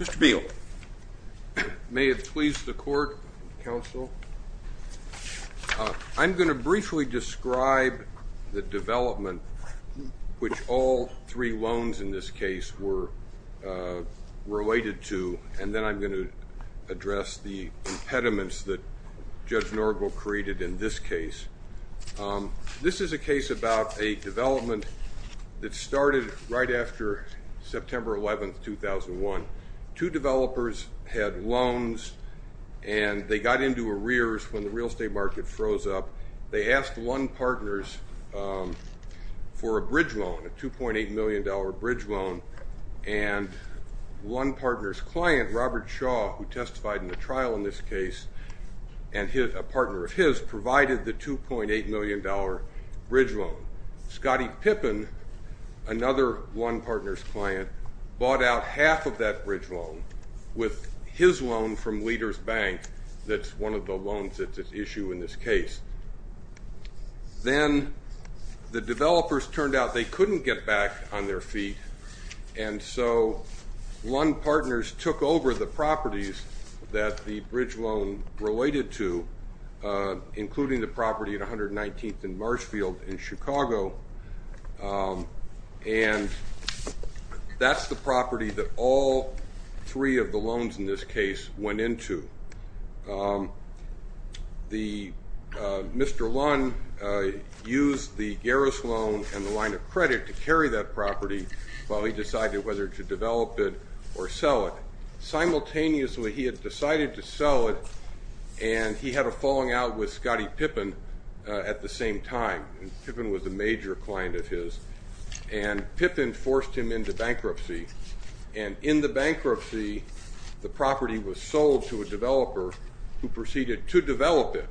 Mr. Beale. May it please the court, counsel. I'm going to briefly describe the development which all three loans in this case were related to, and then I'm going to address the impediments that Judge Norgel created in this case. This is a case about a development that started right after September 11, 2001. Two developers had loans and they got into arrears when the real estate market froze up. They asked Lunn Partners for a bridge loan, a $2.8 million bridge loan, and Lunn Partners client Robert Shaw, who testified in the trial in this case, and a partner of his, provided the $2.8 million bridge loan. Scotty Pippin, another Lunn Partners client, bought out half of that bridge loan with his loan from Leaders Bank, that's one of the loans that's at issue in this case. Then the developers turned out they couldn't get back on their feet, and so Lunn Partners took over the properties that the bridge loan related to, including the property at 119th Marshfield in Chicago, and that's the property that all three of the loans in this case went into. Mr. Lunn used the Garris loan and the line of credit to carry that property while he decided whether to develop it or sell it. Simultaneously, he had decided to sell it and he had a falling out with Scotty Pippin at the same time, and Pippin was a major client of his, and Pippin forced him into bankruptcy, and in the bankruptcy, the property was sold to a developer who proceeded to develop it,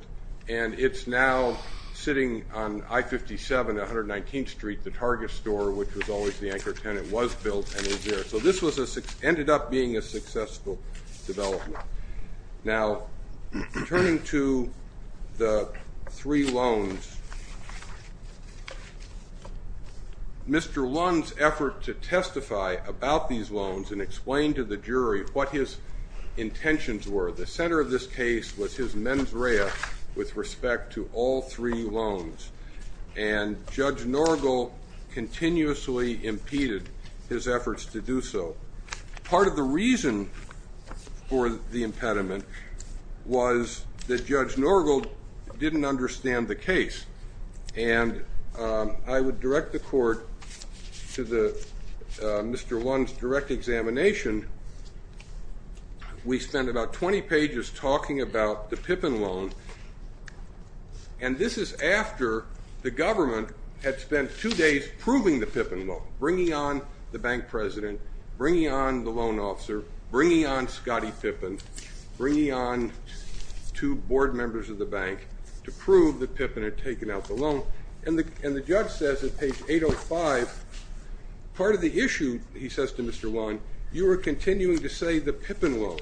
and it's now sitting on I-57, 119th Street, the Target store, which was always the anchor tenant, was built and is there, so this ended up being a successful development. Now, turning to the three loans, Mr. Lunn's effort to testify about these loans and explain to the jury what his intentions were, the center of this case was his mens rea with respect to all three loans, and Judge Norgal continuously impeded his efforts to do so. Part of the reason for the impediment was that Judge Norgal didn't understand the case, and I would direct the court to Mr. Lunn's direct examination. We spent about 20 pages talking about the Pippin loan, and this is after the government had spent two days proving the Pippin loan, bringing on the bank president, bringing on the loan officer, bringing on Scotty Pippin, bringing on two board members of the bank to prove that Pippin had taken out the loan, and the judge says at page 805, part of the issue, he says to Mr. Lunn, you are continuing to say the Pippin loan.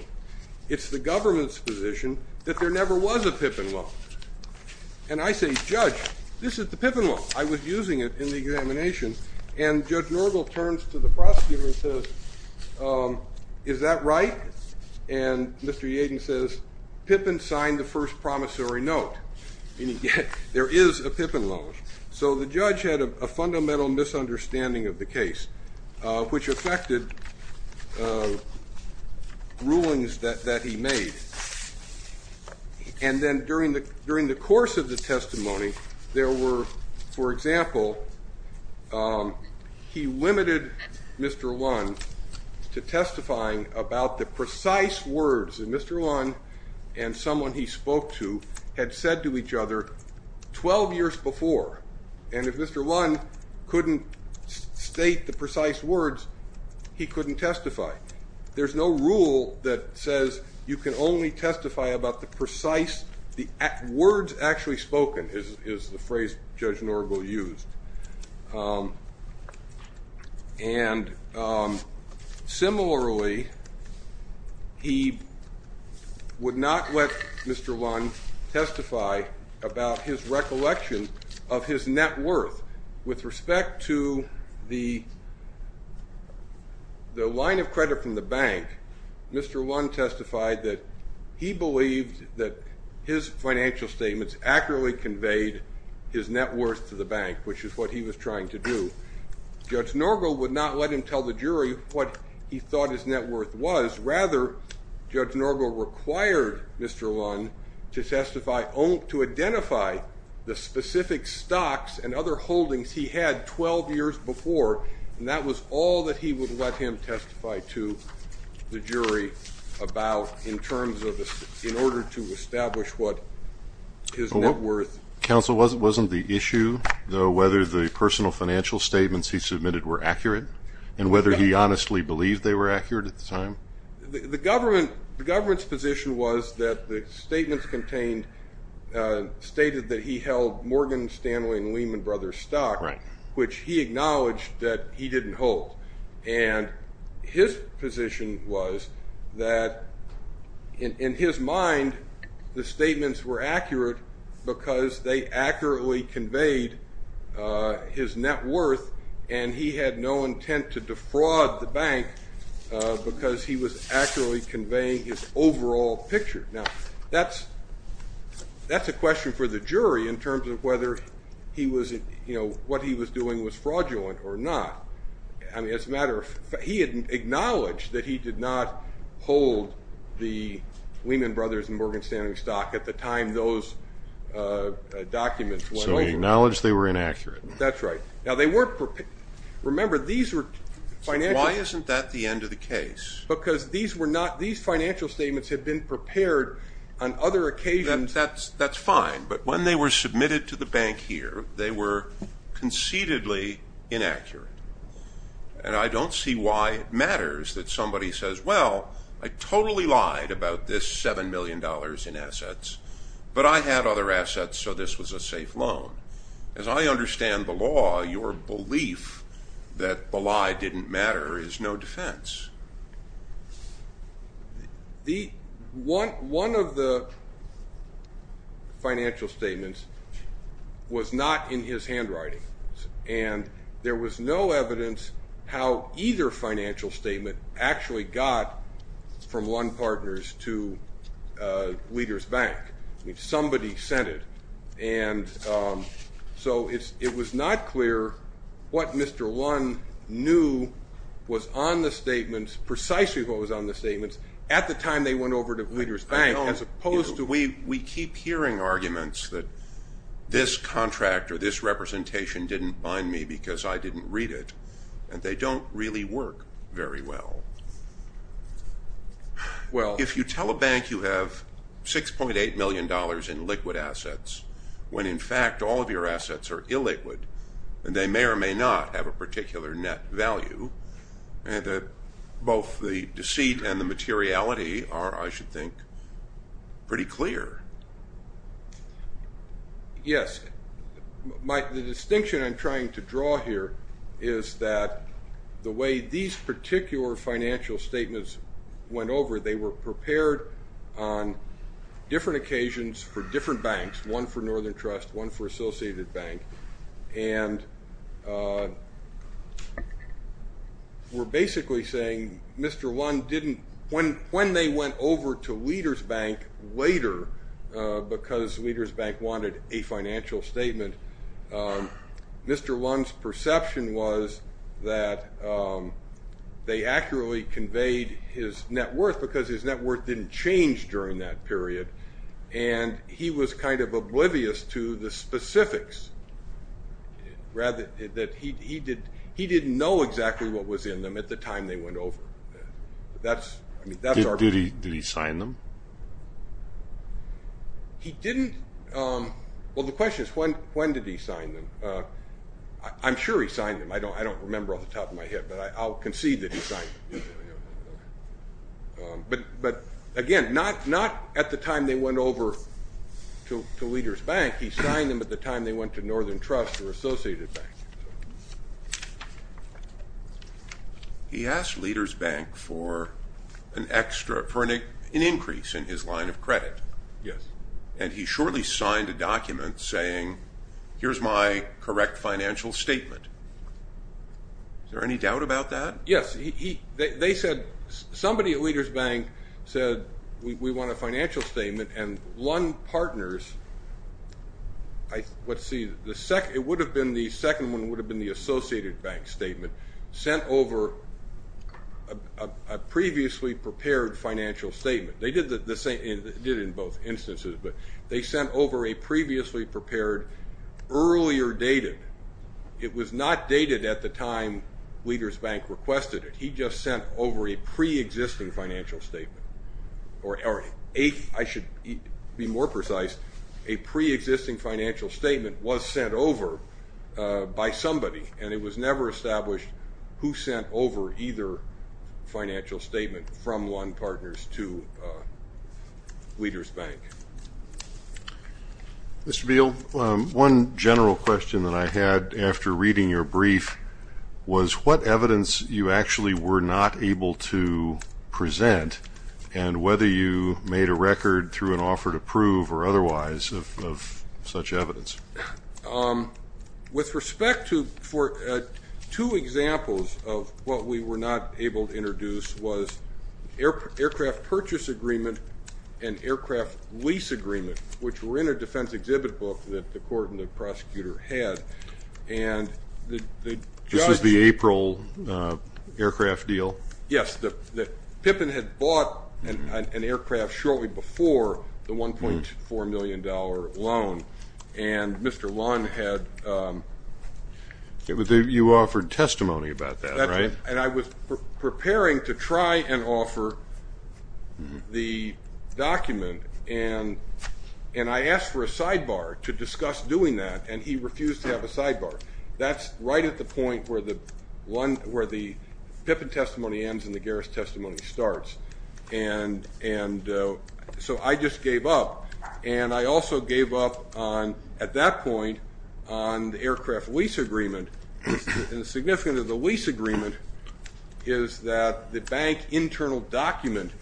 It's the government's position that there never was a Pippin loan, and I say, Judge, this is the Pippin loan. I was using it in the examination, and Judge Norgal turns to the prosecutor and says, is that right? And Mr. Yadin says, Pippin signed the first promissory note, meaning there is a Pippin loan. So the judge had a fundamental misunderstanding of the case, which affected rulings that he made, and then during the course of the testimony, there were, for example, he limited Mr. Lunn to testifying about the precise words that Mr. Lunn and someone he spoke to had said to each other 12 years before, and if Mr. Lunn couldn't state the precise words, he couldn't testify. There's no rule that says you can only testify about the precise words actually spoken, is the phrase Judge Norgal used, and similarly, he would not let Mr. Lunn testify about his credit from the bank. Mr. Lunn testified that he believed that his financial statements accurately conveyed his net worth to the bank, which is what he was trying to do. Judge Norgal would not let him tell the jury what he thought his net worth was. Rather, Judge Norgal required Mr. Lunn to identify the specific stocks and other holdings he had 12 years before, and that was all that he would let him testify to the jury about in terms of, in order to establish what his net worth. Counsel, wasn't the issue, though, whether the personal financial statements he submitted were accurate, and whether he honestly believed they were accurate at the time? The government's position was that the statements contained, stated that he held Morgan Stanley and Lehman Brothers stock, which he acknowledged that he didn't hold. His position was that, in his mind, the statements were accurate because they accurately conveyed his net worth, and he had no intent to defraud the bank because he was accurately conveying his overall picture. Now, that's a question for the jury in terms of whether what he was doing was fraudulent or not. I mean, as a matter of fact, he had acknowledged that he did not hold the Lehman Brothers and Morgan Stanley stock at the time those documents went over. So he acknowledged they were inaccurate. That's right. Now, they weren't prepared. Remember, these were financial- Why isn't that the end of the case? Because these financial statements had been prepared on other occasions. That's fine. But when they were submitted to the bank here, they were concededly inaccurate. And I don't see why it matters that somebody says, well, I totally lied about this $7 million in assets, but I had other assets, so this was a safe loan. As I understand the law, your belief that the lie didn't matter is no defense. One of the financial statements was not in his handwriting, and there was no evidence how either financial statement actually got from one partner's to Leader's Bank. I mean, somebody sent it. And so it was not clear what Mr. Lund knew was on the statements, precisely what was on the statements, at the time they went over to Leader's Bank, as opposed to- We keep hearing arguments that this contract or this representation didn't bind me because I didn't read it, and they don't really work very well. Well- If you tell a bank you have $6.8 million in liquid assets, when in fact all of your assets are illiquid, and they may or may not have a particular net value, both the deceit and the materiality are, I should think, pretty clear. Yes. The distinction I'm trying to draw here is that the way these particular financial statements went over, they were prepared on different occasions for different banks, one for Northern Trust, one for Associated Bank, and were basically saying Mr. Lund didn't- Because Leader's Bank wanted a financial statement, Mr. Lund's perception was that they accurately conveyed his net worth because his net worth didn't change during that period, and he was kind of oblivious to the specifics. He didn't know exactly what was in them at the time they went over. Did he sign them? He didn't. Well, the question is when did he sign them. I'm sure he signed them. I don't remember off the top of my head, but I'll concede that he signed them. But again, not at the time they went over to Leader's Bank. He signed them at the time they went to Northern Trust or Associated Bank. He asked Leader's Bank for an increase in his line of credit, and he shortly signed a document saying here's my correct financial statement. Is there any doubt about that? Yes. Somebody at Leader's Bank said we want a financial statement, and Lund Partners- The second one would have been the Associated Bank statement sent over a previously prepared financial statement. They did it in both instances, but they sent over a previously prepared earlier dated. It was not dated at the time Leader's Bank requested it. He just sent over a preexisting financial statement, or I should be more precise, a preexisting financial statement was sent over by somebody, and it was never established who sent over either financial statement from Lund Partners to Leader's Bank. Mr. Beal, one general question that I had after reading your brief was what evidence you actually were not able to present and whether you made a record through an offer to prove or otherwise of such evidence. With respect to two examples of what we were not able to introduce was aircraft purchase agreement and aircraft lease agreement, which were in a defense exhibit book that the court and the prosecutor had. This was the April aircraft deal? Yes. Pippin had bought an aircraft shortly before the $1.4 million loan, and Mr. Lund had- You offered testimony about that, right? And I was preparing to try and offer the document, and I asked for a sidebar to discuss doing that, and he refused to have a sidebar. That's right at the point where the Pippin testimony ends and the Garris testimony starts. And so I just gave up, and I also gave up at that point on the aircraft lease agreement. And the significance of the lease agreement is that the bank internal document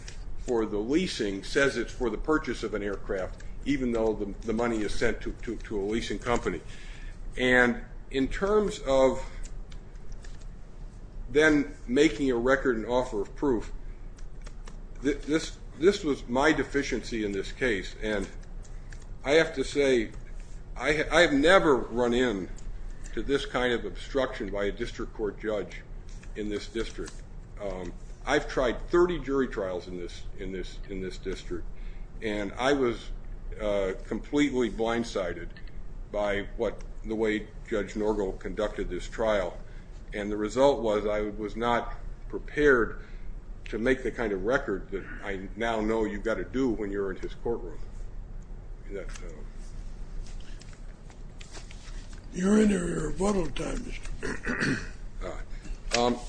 for the leasing says it's for the purchase of an aircraft, even though the money is sent to a leasing company. And in terms of then making a record and offer of proof, this was my deficiency in this case, and I have to say I have never run into this kind of obstruction by a district court judge in this district. I've tried 30 jury trials in this district, and I was completely blindsided by the way Judge Norgo conducted this trial, and the result was I was not prepared to make the kind of record that I now know you've got to do when you're in his courtroom. You're in your rebuttal time, Mr. Pippin.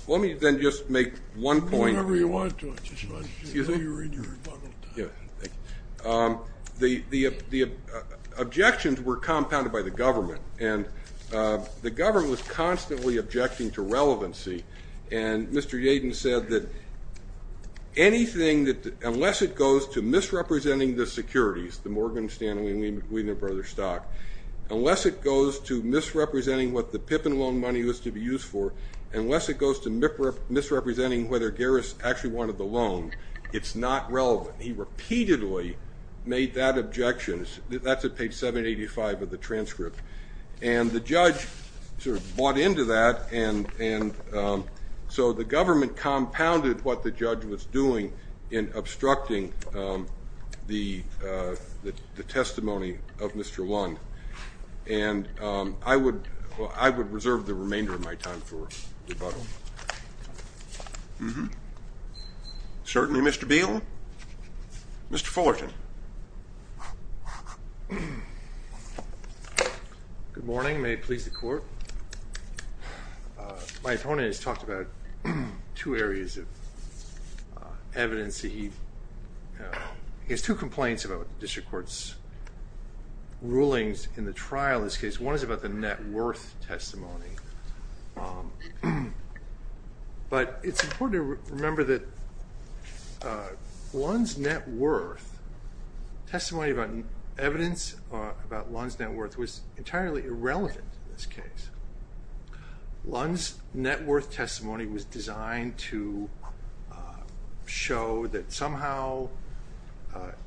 Let me then just make one point. The objections were compounded by the government, and the government was constantly objecting to relevancy, and Mr. Yadin said that unless it goes to misrepresenting the securities, the Morgan, Stanley, unless it goes to misrepresenting whether Garris actually wanted the loan, it's not relevant. He repeatedly made that objection. That's at page 785 of the transcript, and the judge sort of bought into that, and so the government compounded what the judge was doing in obstructing the testimony of Mr. Lund, and I would reserve the remainder of my time for rebuttal. Certainly, Mr. Beal. Mr. Fullerton. Good morning. May it please the court. My opponent has talked about two areas of evidence. He has two complaints about district court's rulings in the trial in this case. One is about the net worth testimony, but it's important to remember that Lund's net worth, testimony about evidence about Lund's net worth was entirely irrelevant in this case. Lund's net worth testimony was designed to show that somehow,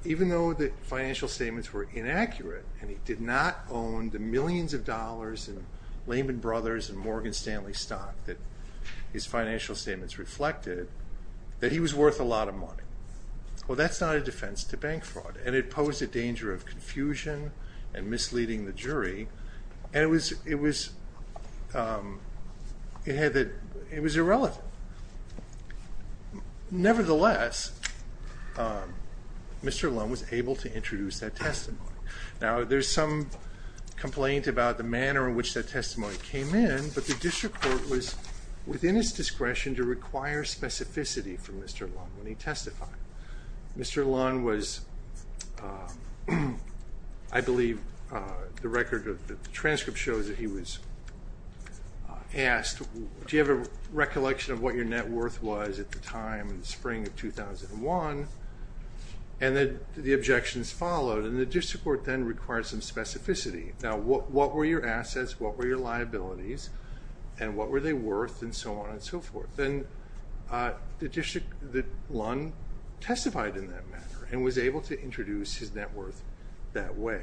even though the financial statements were inaccurate, and he did not own the millions of dollars in Lehman Brothers and Morgan Stanley stock that his financial statements reflected, that he was worth a lot of money. Well, that's not a defense to bank fraud, and it posed a danger of confusion and misleading the jury, and it was irrelevant. Nevertheless, Mr. Lund was able to introduce that testimony. Now, there's some complaint about the manner in which that testimony came in, but the district court was within its discretion to require specificity from Mr. Lund when he testified. Mr. Lund was, I believe, the record of the transcript shows that he was asked, do you have a recollection of what your net worth was at the time in the spring of 2001? And the objections followed, and the district court then required some specificity. Now, what were your assets, what were your liabilities, and what were they worth, and so on and so forth? Then the district, Lund testified in that manner and was able to introduce his net worth that way,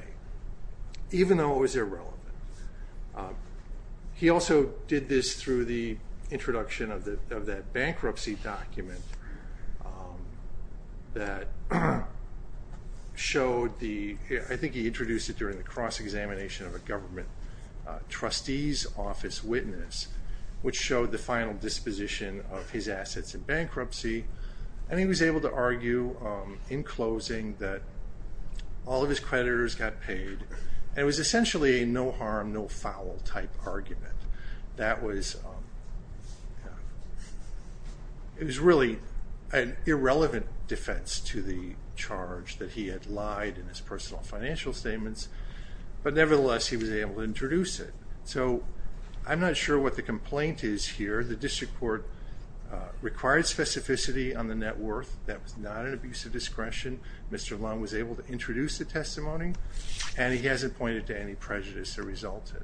even though it was irrelevant. He also did this through the introduction of that bankruptcy document that showed the, I think he introduced it during the cross-examination of a government trustee's office witness, which showed the final disposition of his assets in bankruptcy, and he was able to argue in closing that all of his creditors got paid, and it was essentially a no harm, no foul type argument. That was, it was really an irrelevant defense to the charge that he had lied in his personal financial statements, but nevertheless, he was able to introduce it. So I'm not sure what the complaint is here. The district court required specificity on the net worth. That was not an abuse of discretion. Mr. Lund was able to introduce the testimony, and he hasn't pointed to any prejudice that resulted.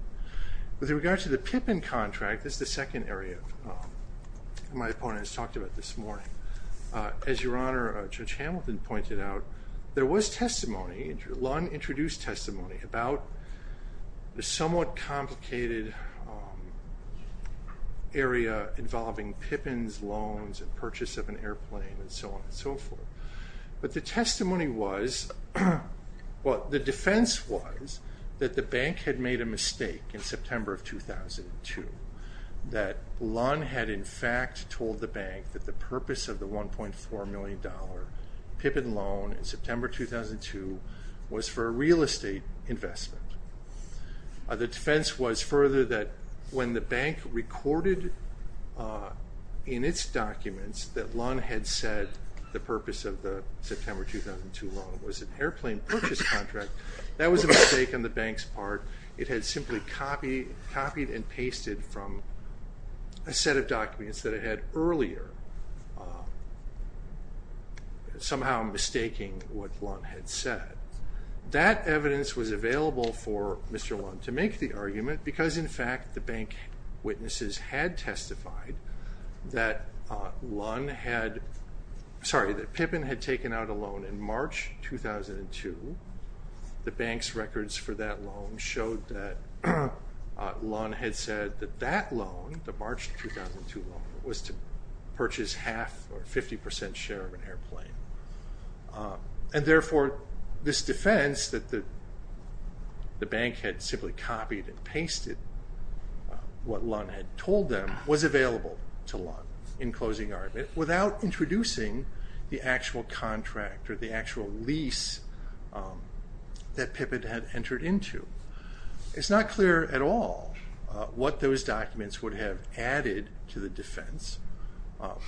With regard to the Pippin contract, this is the second area my opponent has talked about this morning. As Your Honor, Judge Hamilton pointed out, there was testimony, Lund introduced testimony, about the somewhat complicated area involving Pippin's loans and purchase of an airplane and so on and so forth. But the testimony was, well, the defense was that the bank had made a mistake in September of 2002, that Lund had in fact told the bank that the purpose of the $1.4 million Pippin loan in September 2002 was for a real estate investment. The defense was further that when the bank recorded in its documents that Lund had said the purpose of the September 2002 loan was an airplane purchase contract, that was a mistake on the bank's part. It had simply copied and pasted from a set of documents that it had earlier, somehow mistaking what Lund had said. That evidence was available for Mr. Lund to make the argument because in fact the bank witnesses had testified that Pippin had taken out a loan in March 2002. The bank's records for that loan showed that Lund had said that that loan, the March 2002 loan, was to purchase half or 50% share of an airplane. And therefore, this defense that the bank had simply copied and pasted what Lund had told them was available to Lund in closing argument without introducing the actual contract or the actual lease that Pippin had entered into. It's not clear at all what those documents would have added to the defense,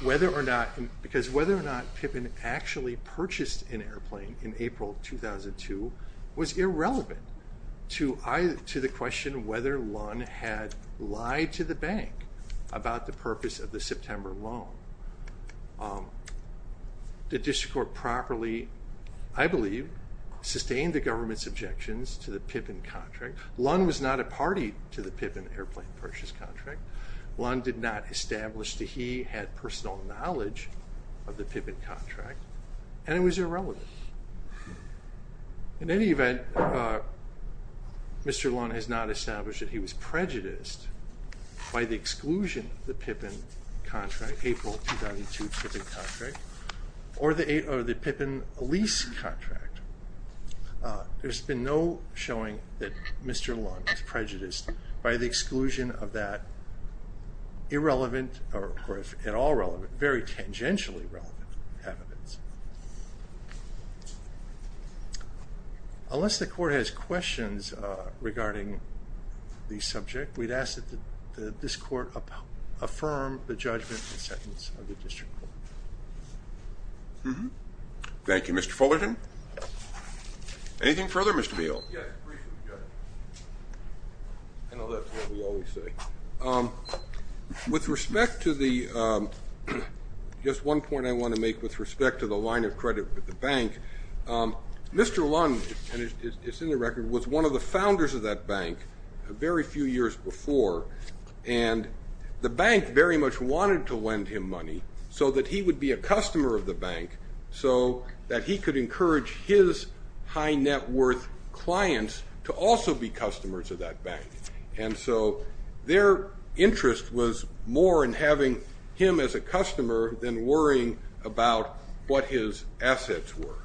because whether or not Pippin actually purchased an airplane in April 2002 was irrelevant to the question whether Lund had lied to the bank about the purpose of the September loan. The district court properly, I believe, sustained the government's objections to the Pippin contract. Lund was not a party to the Pippin airplane purchase contract. Lund did not establish that he had personal knowledge of the Pippin contract, and it was irrelevant. In any event, Mr. Lund has not established that he was prejudiced by the exclusion of the Pippin contract, April 2002 Pippin contract, or the Pippin lease contract. There's been no showing that Mr. Lund was prejudiced by the exclusion of that irrelevant, or if at all relevant, very tangentially relevant evidence. Unless the court has questions regarding the subject, we'd ask that this court affirm the judgment and sentence of the district court. Thank you, Mr. Fullerton. Anything further, Mr. Beall? Yes, briefly, Judge. I know that's what we always say. With respect to the, just one point I want to make with respect to the line of credit with the bank, Mr. Lund, and it's in the record, was one of the founders of that bank a very few years before. And the bank very much wanted to lend him money so that he would be a customer of the bank, so that he could encourage his high net worth clients to also be customers of that bank. And so their interest was more in having him as a customer than worrying about what his assets were.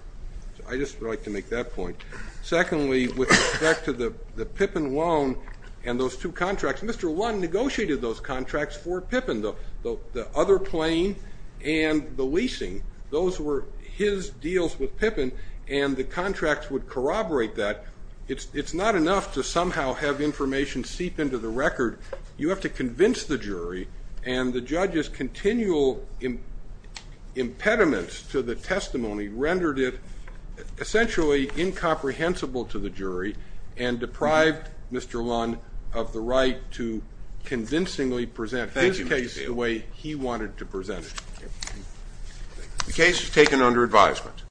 I just would like to make that point. Secondly, with respect to the Pippin loan and those two contracts, Mr. Lund negotiated those contracts for Pippin, the other plane and the leasing. Those were his deals with Pippin, and the contracts would corroborate that. It's not enough to somehow have information seep into the record. You have to convince the jury. And the judge's continual impediments to the testimony rendered it essentially incomprehensible to the jury and deprived Mr. Lund of the right to convincingly present his case the way he wanted to present it. The case is taken under advisement.